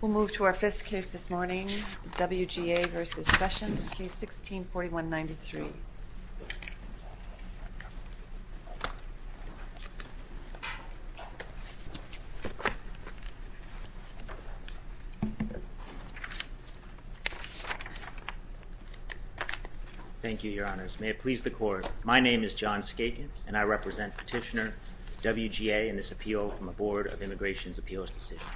We'll move to our fifth case this morning, W.G.A. v. Sessions, Case 16-4193. Thank you, Your Honors. May it please the Court, my name is John Skaken and I represent Petitioner W.G.A. in this Immigration Appeals Decision.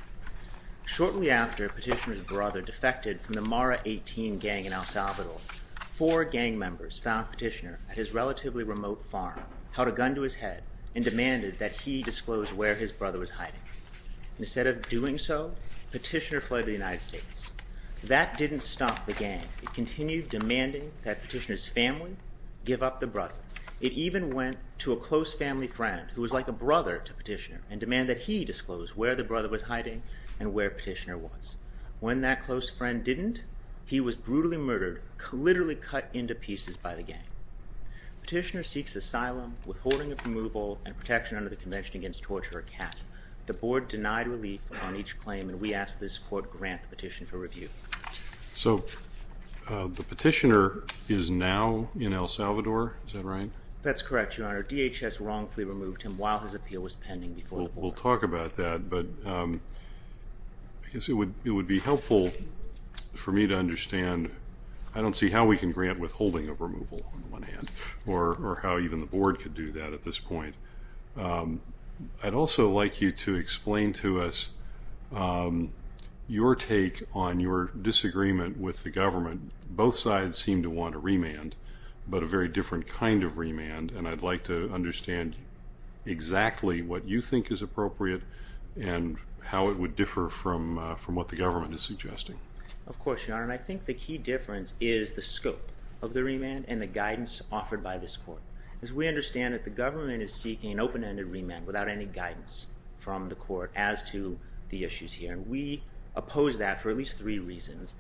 Shortly after Petitioner's brother defected from the Mara 18 gang in El Salvador, four gang members found Petitioner at his relatively remote farm, held a gun to his head, and demanded that he disclose where his brother was hiding. Instead of doing so, Petitioner fled to the United States. That didn't stop the gang. It continued demanding that Petitioner's family give up the brother. It even went to a close family friend, who was like a brother to Petitioner, and demanded that he disclose where the brother was hiding and where Petitioner was. When that close friend didn't, he was brutally murdered, literally cut into pieces by the gang. Petitioner seeks asylum, withholding of removal, and protection under the Convention Against Torture or CAP. The Board denied relief on each claim and we ask this Court grant the petition for review. So the Petitioner is now in El Salvador, is that right? That's correct, Your Honor. DHS wrongfully removed him while his appeal was pending before the Board. We'll talk about that, but I guess it would be helpful for me to understand, I don't see how we can grant withholding of removal on the one hand, or how even the Board could do that at this point. I'd also like you to explain to us your take on your disagreement with the government. Both sides seem to want a remand, but a very different kind of remand, and I'd like to understand exactly what you think is appropriate and how it would differ from what the government is suggesting. Of course, Your Honor. I think the key difference is the scope of the remand and the guidance offered by this Court. As we understand it, the government is seeking an open-ended remand without any guidance from the Court as to the issues here, and we oppose that for at least three reasons.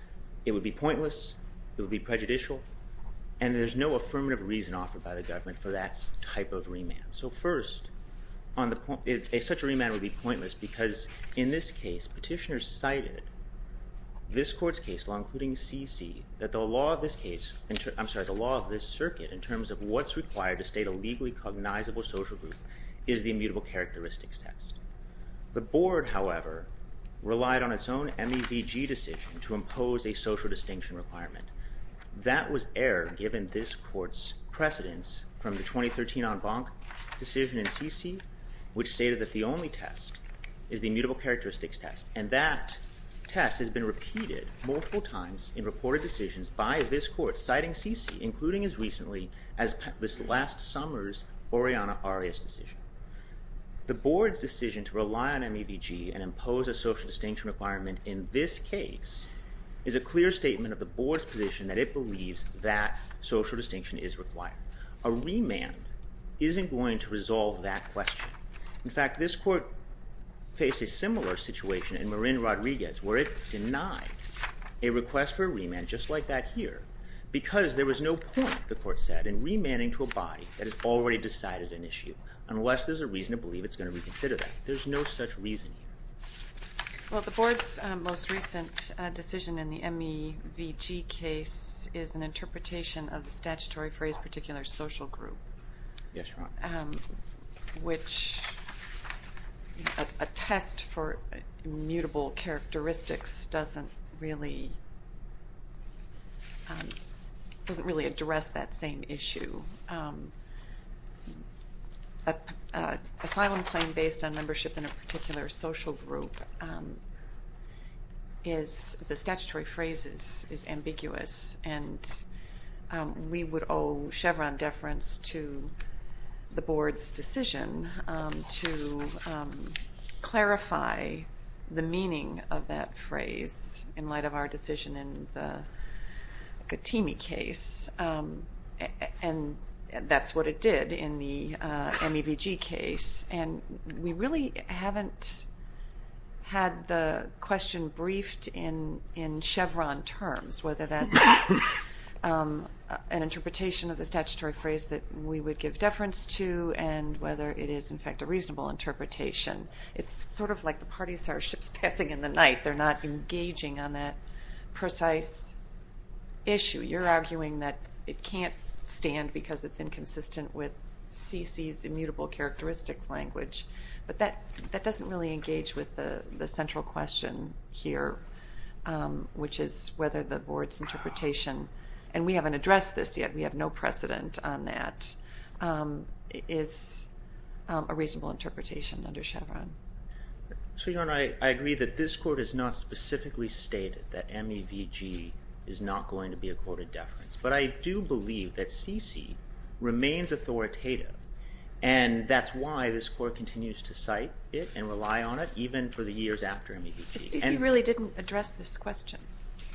It would be pointless, it would be prejudicial, and there's no affirmative reason offered by the government for that type of remand. So first, such a remand would be pointless because in this case, Petitioner cited this Court's case law, including CC, that the law of this case, I'm sorry, the law of this circuit in terms of what's required to state a legally cognizable social group is the immutable characteristics test. The Board, however, relied on its own MEVG decision to impose a social distinction requirement. That was error given this Court's precedence from the 2013 en banc decision in CC, which stated that the only test is the immutable characteristics test, and that test has been as this last summer's Oriana Arias decision. The Board's decision to rely on MEVG and impose a social distinction requirement in this case is a clear statement of the Board's position that it believes that social distinction is required. A remand isn't going to resolve that question. In fact, this Court faced a similar situation in Marin Rodriguez, where it denied a request for a remand, just like that here, because there was no point, the Court said, in remanding to a body that has already decided an issue, unless there's a reason to believe it's going to reconsider that. There's no such reason here. Well, the Board's most recent decision in the MEVG case is an interpretation of the statutory phrase, particular social group, which a test for immutable characteristics doesn't really address that same issue. An asylum claim based on membership in a particular social group, the statutory phrase is ambiguous, and we would owe Chevron deference to the Board's decision to clarify the meaning of that phrase in light of our decision in the Katimi case, and that's what it did in the MEVG case, and we really haven't had the question briefed in Chevron terms, whether that's an interpretation of the statutory phrase that we would give deference to, and whether it is, in fact, a reasonable interpretation. It's sort of like the party starships passing in the night. They're not engaging on that precise issue. You're arguing that it can't stand because it's inconsistent with CC's immutable characteristics language, but that doesn't really engage with the central question here, which is whether the Board's interpretation, and we haven't addressed this yet, we have no precedent on that, is a reasonable interpretation under Chevron. So, Your Honor, I agree that this Court has not specifically stated that MEVG is not going to be a quoted deference, but I do believe that CC remains authoritative, and that's why this Court continues to cite it and rely on it, even for the years after MEVG. CC really didn't address this question.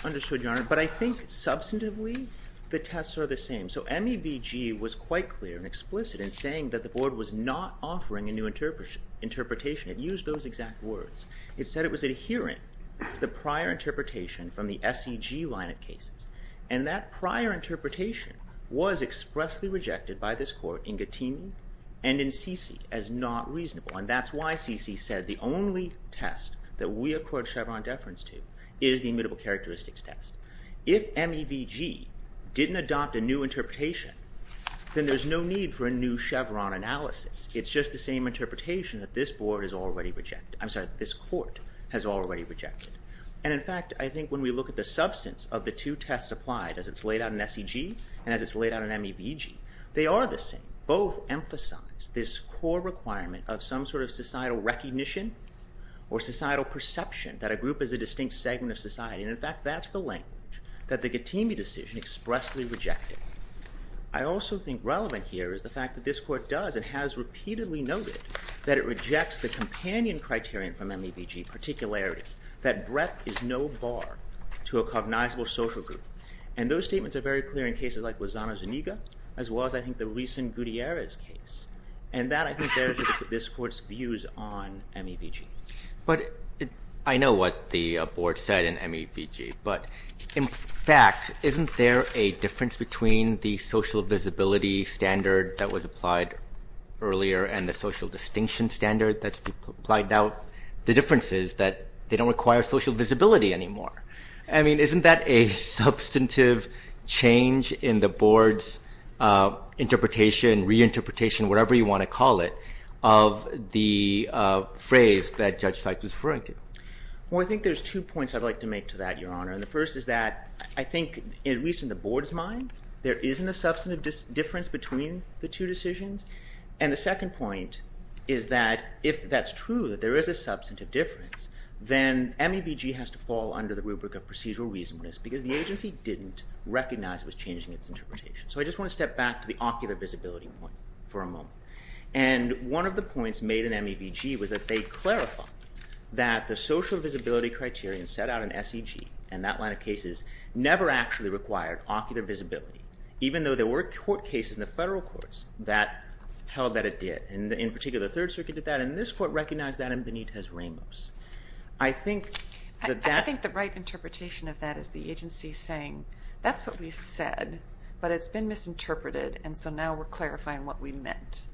Understood, Your Honor, but I think substantively the tests are the same. So MEVG was quite clear and explicit in saying that the Board was not offering a new interpretation. It used those exact words. It said it was adhering to the prior interpretation from the SEG line of cases, and that prior interpretation was expressly rejected by this Court in Gattini and in CC as not reasonable, and that's why CC said the only test that we accord Chevron deference to is the immutable characteristics test. If MEVG didn't adopt a new interpretation, then there's no need for a new Chevron analysis. It's just the same interpretation that this Court has already rejected. And in fact, I think when we look at the substance of the two tests applied, as it's laid out in SEG and as it's laid out in MEVG, they are the same. Both emphasize this core requirement of some sort of societal recognition or societal perception that a group is a distinct segment of society, and in fact that's the language that the Gattini decision expressly rejected. I also think relevant here is the fact that this Court does and has repeatedly noted that it rejects the companion criterion from MEVG, particularity, that breadth is no bar to a cognizable social group. And those statements are very clear in cases like Lozano's Zuniga, as well as I think the recent Gutierrez case, and that I think bears this Court's views on MEVG. But I know what the Board said in MEVG, but in fact, isn't there a difference between the social visibility standard that was applied earlier and the social distinction standard that's applied now? The difference is that they don't require social visibility anymore. I mean, isn't that a substantive change in the Board's interpretation, reinterpretation, whatever you want to call it, of the phrase that Judge Seitz was referring to? Well, I think there's two points I'd like to make to that, Your Honor. And the first is that I think, at least in the Board's mind, there isn't a substantive difference between the two decisions. And the second point is that if that's true, that there is a substantive difference, then MEVG has to fall under the rubric of procedural reasonableness because the agency didn't recognize it was changing its interpretation. So I just want to step back to the ocular visibility point for a moment. And one of the points made in MEVG was that they clarified that the social visibility criterion set out in SEG, and that line of cases, never actually required ocular visibility, even though there were court cases in the federal courts that held that it did. In particular, the Third Circuit did that, and this Court recognized that in Benitez-Ramos. I think that that— I think the right interpretation of that is the agency saying, that's what we said, but it's been misinterpreted, and so now we're clarifying what we meant.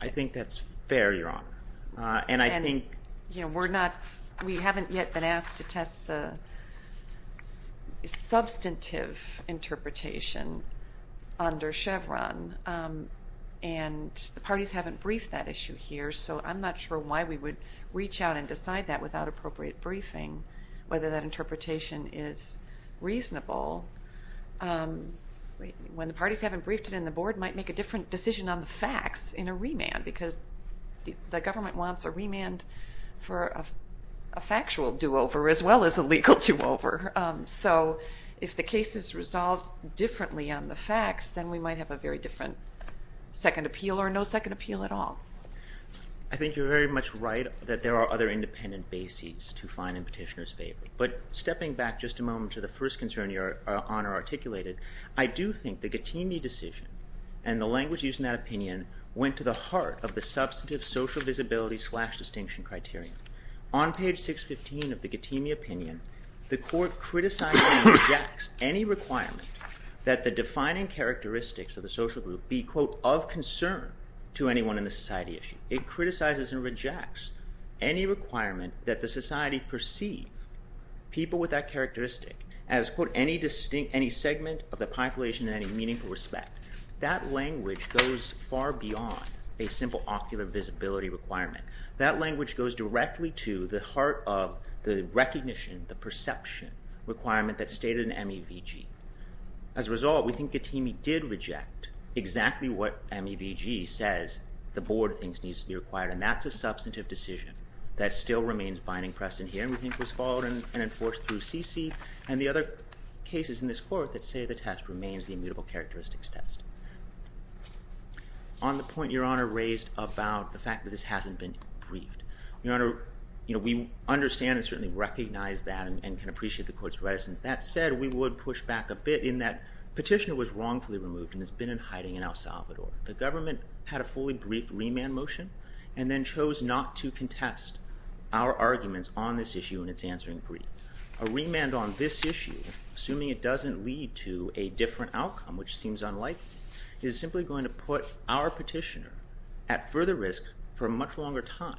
I think that's fair, Your Honor. And I think— You know, we're not—we haven't yet been asked to test the substantive interpretation under Chevron, and the parties haven't briefed that issue here. So I'm not sure why we would reach out and decide that without appropriate briefing, whether that interpretation is reasonable. When the parties haven't briefed it in the board, might make a different decision on the facts in a remand, because the government wants a remand for a factual do-over as well as a legal do-over. So if the case is resolved differently on the facts, then we might have a very different second appeal or no second appeal at all. I think you're very much right that there are other independent bases to find in Petitioner's favor. But stepping back just a moment to the first concern Your Honor articulated, I do think the Gattini decision and the language used in that opinion went to the heart of the substantive social visibility slash distinction criteria. On page 615 of the Gattini opinion, the court criticized and rejects any requirement that the defining characteristics of the social group be, quote, of concern to anyone in the society issue. It criticizes and rejects any requirement that the society perceive people with that characteristic as, quote, any segment of the population in any meaningful respect. That language goes far beyond a simple ocular visibility requirement. That language goes directly to the heart of the recognition, the perception requirement that's stated in MEVG. As a result, we think Gattini did reject exactly what MEVG says the board thinks needs to be required. And that's a substantive decision that still remains binding precedent here and we think was followed and enforced through CC and the other cases in this court that say the test remains the immutable characteristics test. On the point Your Honor raised about the fact that this hasn't been briefed, Your Honor, you know, we understand and certainly recognize that and can appreciate the court's reticence. That said, we would push back a bit in that petitioner was wrongfully removed and has been in hiding in El Salvador. The government had a fully briefed remand motion and then chose not to contest our arguments on this issue in its answering brief. A remand on this issue, assuming it doesn't lead to a different outcome, which seems unlikely, is simply going to put our petitioner at further risk for a much longer time.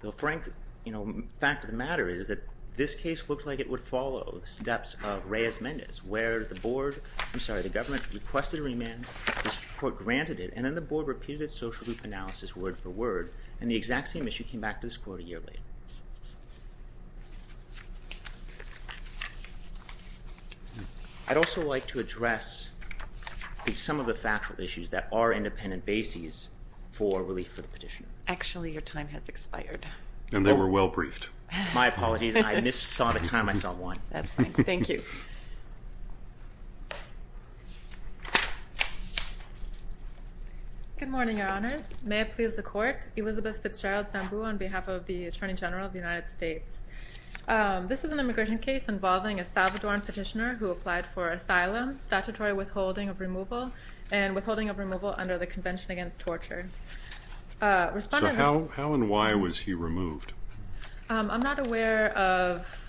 The frank, you know, fact of the matter is that this case looks like it would follow the steps of Reyes-Mendez, where the board, I'm sorry, the government requested a remand, this court granted it, and then the board repeated its social group analysis word for word and the exact same issue came back to this court a year later. I'd also like to address some of the factual issues that are independent bases for relief for the petitioner. Actually, your time has expired. And they were well briefed. My apologies. I missaw the time. I saw one. That's fine. Thank you. Good morning, Your Honors. May it please the court. Elizabeth Fitzgerald Sambu on behalf of the Attorney General of the United States. This is an immigration case involving a Salvadoran petitioner who applied for asylum, statutory withholding of removal, and withholding of removal under the Convention Against Torture. Respondents... So how and why was he removed? I'm not aware of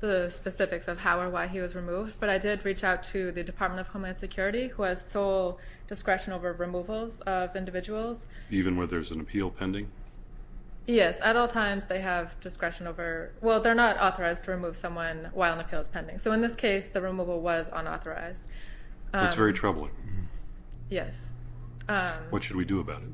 the specifics of how or why he was removed, but I did reach out to the Department of Homeland Security, who has sole discretion over removals of individuals. Even where there's an appeal pending? Yes. At all times, they have discretion over, well, they're not authorized to remove someone while an appeal is pending. So in this case, the removal was unauthorized. It's very troubling. Yes. What should we do about it?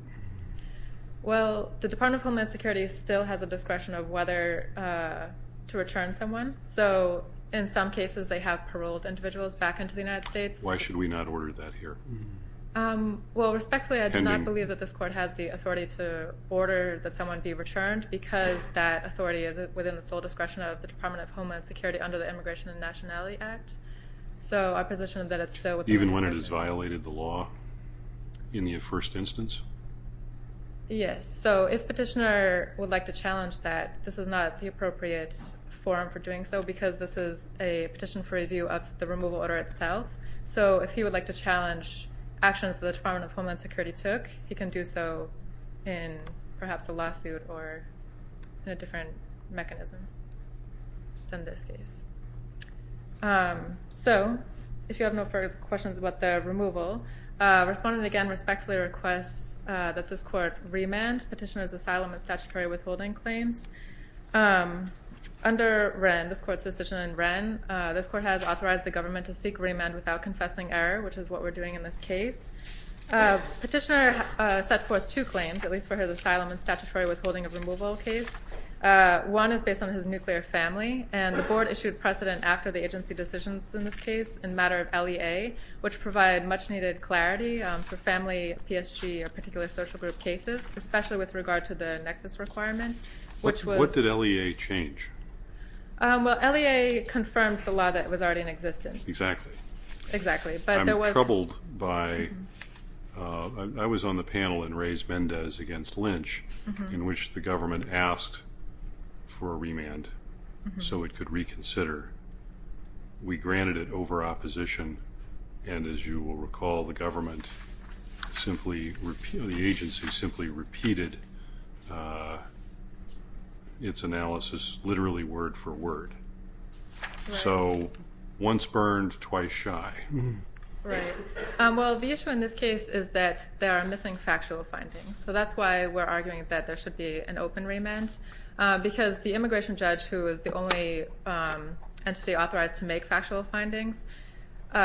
Well, the Department of Homeland Security still has a discretion of whether to return someone. So in some cases, they have paroled individuals back into the United States. Why should we not order that here? Well, respectfully, I do not believe that this court has the authority to order that someone be returned because that authority is within the sole discretion of the Department of Homeland Security under the Immigration and Nationality Act. So our position is that it's still within... Even when it has violated the law in the first instance? Yes. So if petitioner would like to challenge that, this is not the appropriate forum for doing so because this is a petition for review of the removal order itself. So if he would like to challenge actions that the Department of Homeland Security took, he can do so in perhaps a lawsuit or in a different mechanism than this case. So, if you have no further questions about the removal, respondent again respectfully requests that this court remand petitioner's asylum and statutory withholding claims. Under Wren, this court's decision in Wren, this court has authorized the government to seek remand without confessing error, which is what we're doing in this case. Petitioner set forth two claims, at least for his asylum and statutory withholding of removal case. One is based on his nuclear family, and the board issued precedent after the agency decisions in this case in matter of LEA, which provide much needed clarity for family, PSG, or particular social group cases, especially with regard to the nexus requirement, which was... What did LEA change? Well, LEA confirmed the law that was already in existence. Exactly. Exactly. But there was... I'm troubled by... I was on the panel in Reyes-Mendez against Lynch, in which the government asked for a remand so it could reconsider. We granted it over opposition, and as you will recall, the government simply... The agency simply repeated its analysis literally word for word. So, once burned, twice shy. Right. Well, the issue in this case is that there are missing factual findings, so that's why we're arguing that there should be an open remand, because the immigration judge, who is the only entity authorized to make factual findings,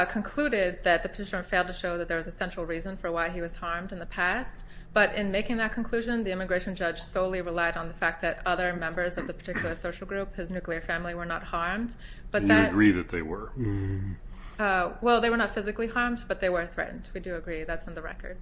concluded that the petitioner failed to show that there was a central reason for why he was harmed in the past, but in making that conclusion, the immigration judge solely relied on the fact that other members of the particular social group, his nuclear family, were not harmed, but that... You agree that they were. Well, they were not physically harmed, but they were threatened. We do agree. That's in the record.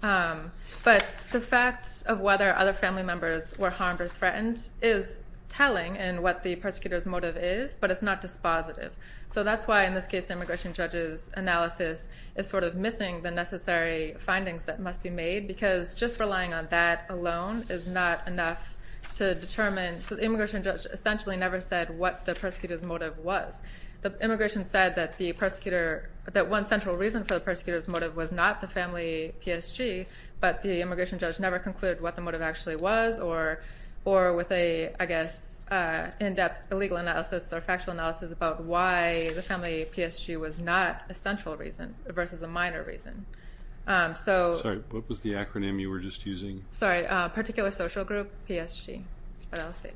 But the fact of whether other family members were harmed or threatened is telling in what the persecutor's motive is, but it's not dispositive. So that's why, in this case, the immigration judge's analysis is sort of missing the necessary findings that must be made, because just relying on that alone is not enough to determine... So the immigration judge essentially never said what the persecutor's motive was. The immigration said that one central reason for the persecutor's motive was not the family PSG, but the immigration judge never concluded what the motive actually was, or with a, I guess, in-depth legal analysis or factual analysis about why the family PSG was not a central reason versus a minor reason. Sorry, what was the acronym you were just using? Sorry, Particular Social Group PSG, but I'll state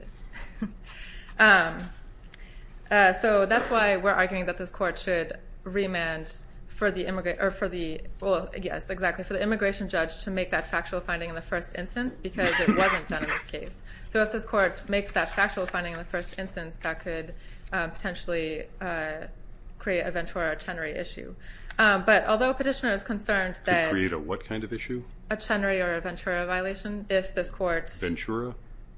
it. So that's why we're arguing that this court should remand for the... Well, yes, exactly, for the immigration judge to make that factual finding in the first instance, because it wasn't done in this case. So if this court makes that factual finding in the first instance, that could potentially create a Ventura or Chenery issue. But although a petitioner is concerned that... Could create a what kind of issue? A Chenery or a Ventura violation if this court... Ventura?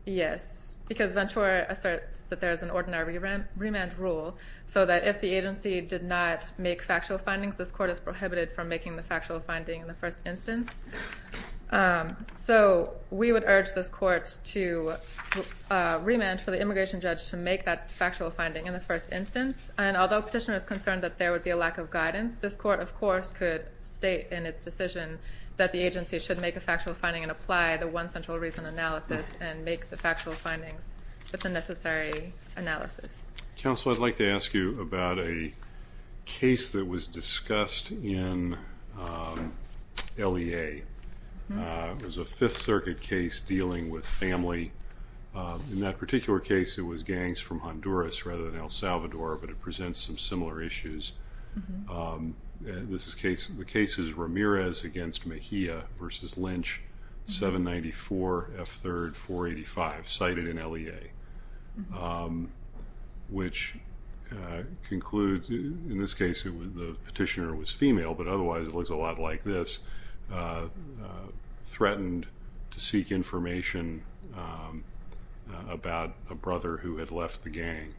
Yes, because Ventura asserts that there is an ordinary remand rule, so that if the agency did not make factual findings, this court is prohibited from making the factual finding in the first instance. So we would urge this court to remand for the immigration judge to make that factual finding in the first instance. And although a petitioner is concerned that there would be a lack of guidance, this court of course could state in its decision that the agency should make a factual finding and make the factual findings with the necessary analysis. Counsel, I'd like to ask you about a case that was discussed in LEA. It was a Fifth Circuit case dealing with family. In that particular case, it was gangs from Honduras rather than El Salvador, but it presents some similar issues. The case is Ramirez v. Mejia v. Lynch, 794 F. 3rd 485, cited in LEA. Which concludes, in this case the petitioner was female, but otherwise it looks a lot like this, threatened to seek information about a brother who had left the gang.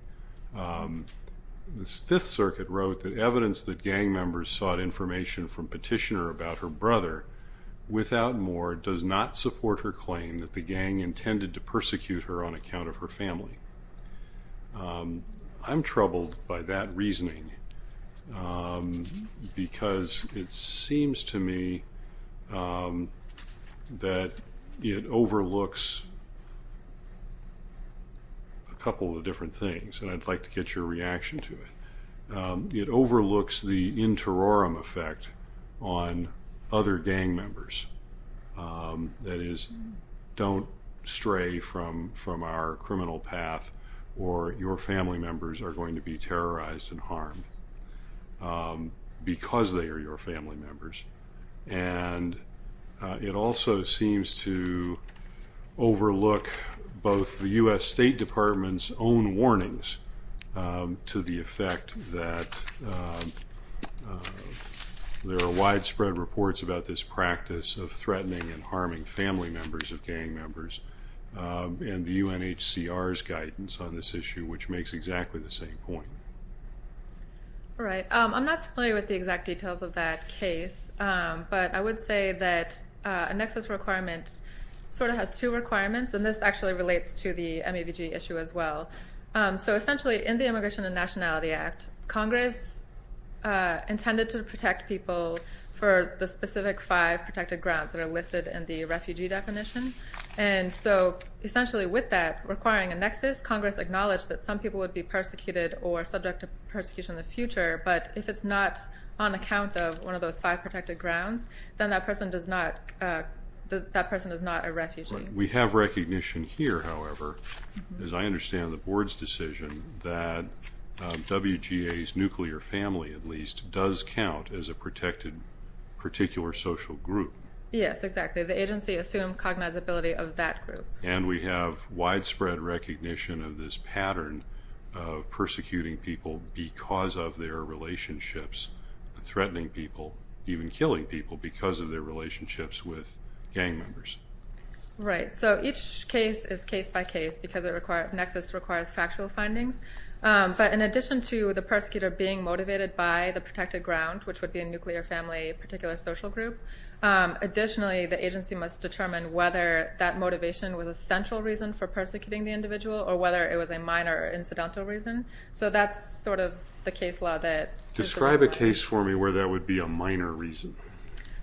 The Fifth Circuit wrote that evidence that gang members sought information from petitioner about her brother, without more, does not support her claim that the gang intended to persecute her on account of her family. I'm troubled by that reasoning because it seems to me that it overlooks a couple of different things, and I'd like to get your reaction to it. It overlooks the interorum effect on other gang members. That is, don't stray from our criminal path or your family members are going to be terrorized and harmed because they are your family members. And it also seems to overlook both the U.S. State Department's own warnings to the effect that there are widespread reports about this practice of threatening and harming family members of gang members, and the UNHCR's guidance on this issue, which makes exactly the same point. All right. I'm not familiar with the exact details of that case, but I would say that a nexus requirement sort of has two requirements, and this actually relates to the MABG issue as well. So essentially, in the Immigration and Nationality Act, Congress intended to protect people for the specific five protected grounds that are listed in the refugee definition. And so essentially with that requiring a nexus, Congress acknowledged that some people would be persecuted or subject to persecution in the future, but if it's not on account of one of those five protected grounds, then that person is not a refugee. Right. We have recognition here, however, as I understand the Board's decision, that WGA's nuclear family at least does count as a protected particular social group. Yes, exactly. The agency assumed cognizability of that group. And we have widespread recognition of this pattern of persecuting people because of their relationships, threatening people, even killing people because of their relationships with gang members. Right. So each case is case by case because a nexus requires factual findings. But in addition to the persecutor being motivated by the protected ground, which would be a nuclear family particular social group, additionally the agency must determine whether that motivation was a central reason for persecuting the individual or whether it was a minor incidental reason. So that's sort of the case law that... Describe a case for me where that would be a minor reason.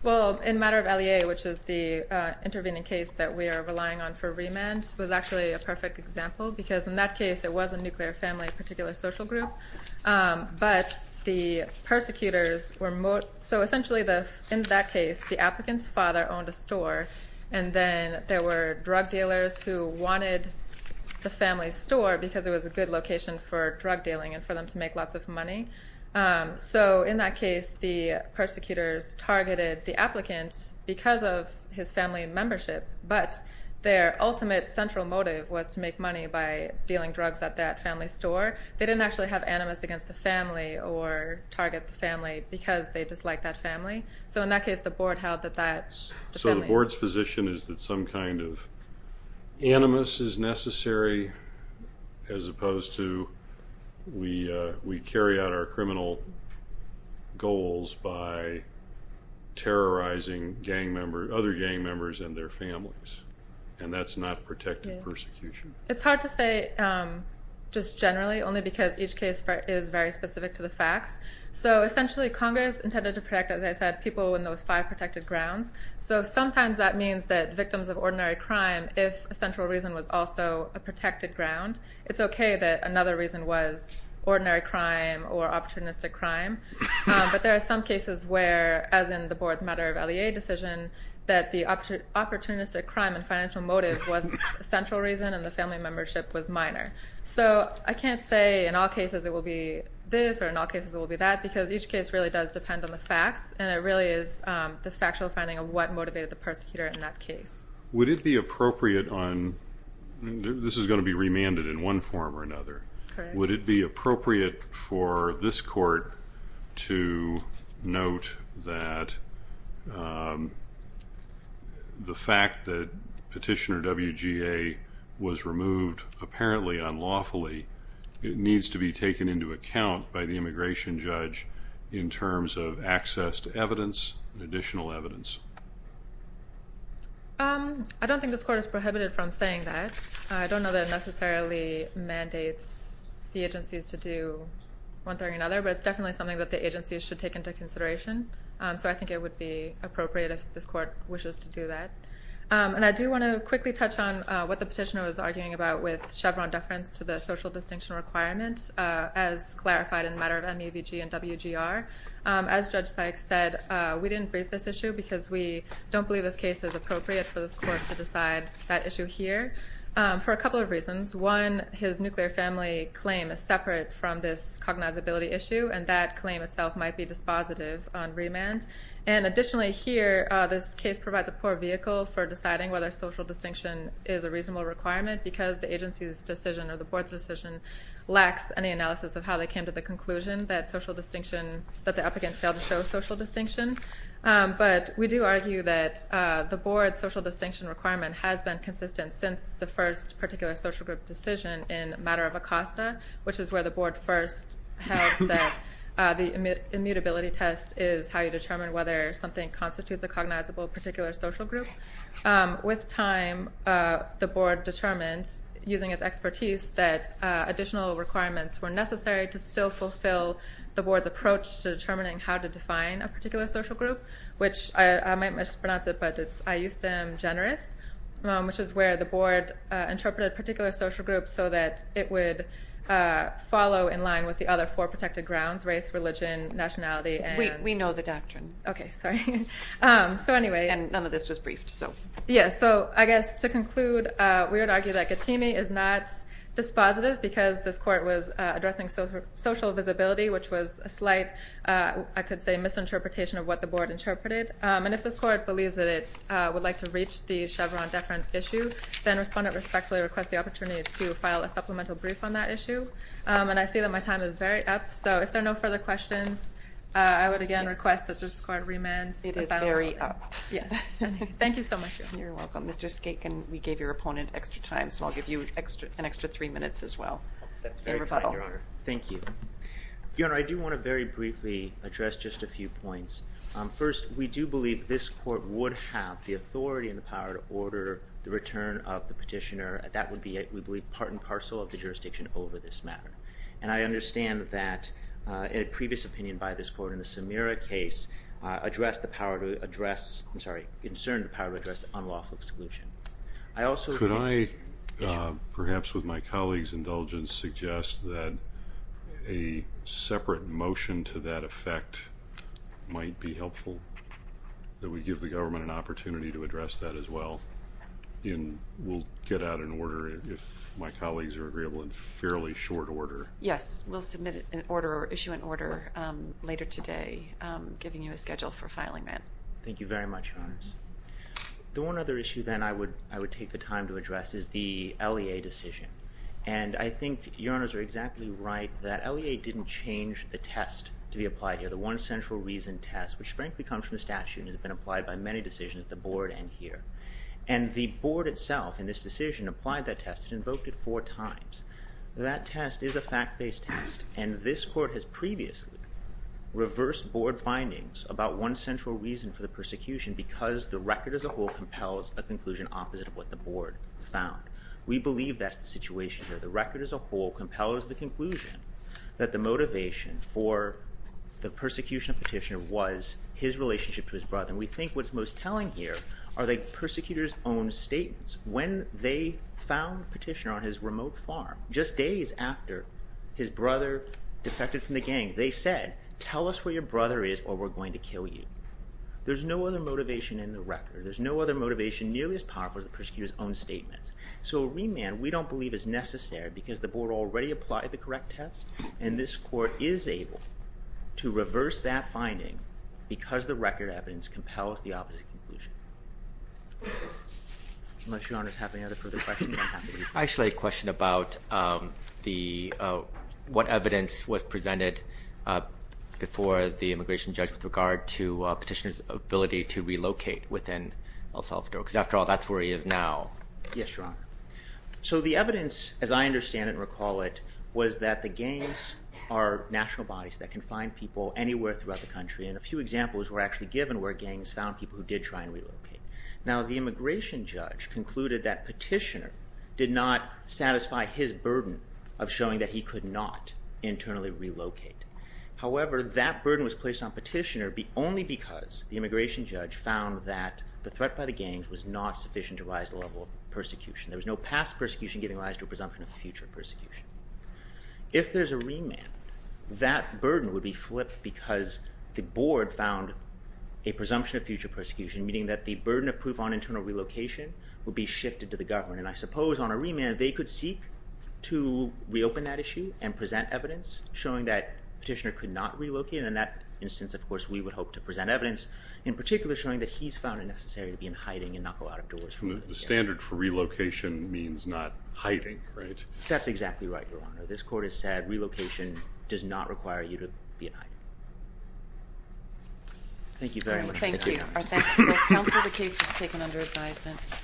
Well, in matter of LEA, which is the intervening case that we are relying on for remand, was actually a perfect example because in that case it was a nuclear family particular social group. But the persecutors were... So essentially in that case the applicant's father owned a store and then there were drug dealers who wanted the family's store because it was a good location for drug dealing and for them to make lots of money. So in that case the persecutors targeted the applicant because of his family membership, but their ultimate central motive was to make money by dealing drugs at that family's store. They didn't actually have animus against the family or target the family because they disliked that family. So in that case the board held that that... So the board's position is that some kind of animus is necessary as opposed to we carry out our criminal goals by terrorizing gang members, other gang members and their families. And that's not protected persecution. It's hard to say just generally only because each case is very specific to the facts. So essentially Congress intended to protect, as I said, people in those five protected grounds. So sometimes that means that victims of ordinary crime, if a central reason was also a protected ground, it's okay that another reason was ordinary crime or opportunistic crime. But there are some cases where, as in the board's matter of LEA decision, that the opportunistic crime and financial motive was central reason and the family membership was minor. So I can't say in all cases it will be this or in all cases it will be that because each case really does depend on the facts and it really is the factual finding of what motivated the persecutor in that case. Would it be appropriate on... This is going to be remanded in one form or another. Correct. Would it be appropriate for this court to note that the fact that Petitioner WGA was removed apparently unlawfully, it needs to be taken into account by the immigration judge in terms of access to evidence, additional evidence? I don't think this court is prohibited from saying that. I don't know that it necessarily mandates the agencies to do one thing or another, but it's definitely something that the agencies should take into consideration. So I think it would be appropriate if this court wishes to do that. And I do want to quickly touch on what the petitioner was arguing about with Chevron deference to the social distinction requirement, as clarified in the matter of MEVG and WGR. As Judge Sykes said, we didn't brief this issue because we don't believe this case is that issue here for a couple of reasons. One, his nuclear family claim is separate from this cognizability issue, and that claim itself might be dispositive on remand. And additionally here, this case provides a poor vehicle for deciding whether social distinction is a reasonable requirement because the agency's decision or the board's decision lacks any analysis of how they came to the conclusion that the applicant failed to show social distinction. But we do argue that the board's social distinction requirement has been consistent since the first particular social group decision in a matter of ACOSTA, which is where the board first held that the immutability test is how you determine whether something constitutes a cognizable particular social group. With time, the board determined, using its expertise, that additional requirements were I might mispronounce it, but it's I-U-STEM Generous, which is where the board interpreted a particular social group so that it would follow in line with the other four protected grounds, race, religion, nationality, and... We know the doctrine. Okay, sorry. So anyway... And none of this was briefed, so... Yeah, so I guess to conclude, we would argue that Katimi is not dispositive because this court was addressing social visibility, which was a slight, I could say, misinterpretation of what the board interpreted. And if this court believes that it would like to reach the Chevron deference issue, then respondent respectfully requests the opportunity to file a supplemental brief on that issue. And I see that my time is very up, so if there are no further questions, I would again request that this court remand... It is very up. Yes. Thank you so much, Your Honor. You're welcome. Mr. Skaken, we gave your opponent extra time, so I'll give you an extra three minutes as well in rebuttal. That's very kind, Your Honor. Thank you. Your Honor, I do want to very briefly address just a few points. First, we do believe this court would have the authority and the power to order the return of the petitioner. That would be, we believe, part and parcel of the jurisdiction over this matter. And I understand that a previous opinion by this court in the Samira case addressed the power to address... I'm sorry, concerned the power to address unlawful exclusion. I also... Perhaps with my colleague's indulgence, suggest that a separate motion to that effect might be helpful, that we give the government an opportunity to address that as well. And we'll get out an order if my colleagues are agreeable in fairly short order. Yes. We'll submit an order or issue an order later today, giving you a schedule for filing that. Thank you very much, Your Honors. The one other issue then I would take the time to address is the LEA decision. And I think Your Honors are exactly right that LEA didn't change the test to be applied here, the one central reason test, which frankly comes from the statute and has been applied by many decisions at the board and here. And the board itself in this decision applied that test. It invoked it four times. That test is a fact-based test. And this court has previously reversed board findings about one central reason for the test. The record as a whole compels a conclusion opposite of what the board found. We believe that's the situation here. The record as a whole compels the conclusion that the motivation for the persecution of Petitioner was his relationship to his brother. And we think what's most telling here are the persecutor's own statements. When they found Petitioner on his remote farm, just days after his brother defected from the gang, they said, tell us where your brother is or we're going to kill you. There's no other motivation in the record. There's no other motivation nearly as powerful as the persecutor's own statements. So a remand we don't believe is necessary because the board already applied the correct test, and this court is able to reverse that finding because the record evidence compels the opposite conclusion. Unless Your Honors have any other further questions. I actually have a question about what evidence was presented before the immigration judge with regard to Petitioner's ability to relocate within El Salvador. Because after all, that's where he is now. Yes, Your Honor. So the evidence, as I understand it and recall it, was that the gangs are national bodies that can find people anywhere throughout the country. And a few examples were actually given where gangs found people who did try and relocate. Now, the immigration judge concluded that Petitioner did not satisfy his burden of showing that he could not internally relocate. However, that burden was placed on Petitioner only because the immigration judge found that the threat by the gangs was not sufficient to rise the level of persecution. There was no past persecution giving rise to a presumption of future persecution. If there's a remand, that burden would be flipped because the board found a presumption of future persecution, meaning that the burden of proof on internal relocation would be shifted to the government. And I suppose on a remand, they could seek to reopen that issue and present evidence showing that Petitioner could not relocate. In that instance, of course, we would hope to present evidence, in particular, showing that he's found it necessary to be in hiding and not go out of doors. The standard for relocation means not hiding, right? That's exactly right, Your Honor. This court has said relocation does not require you to be in hiding. Thank you very much. Thank you. Our thanks to both counsel. The case is taken under advisement.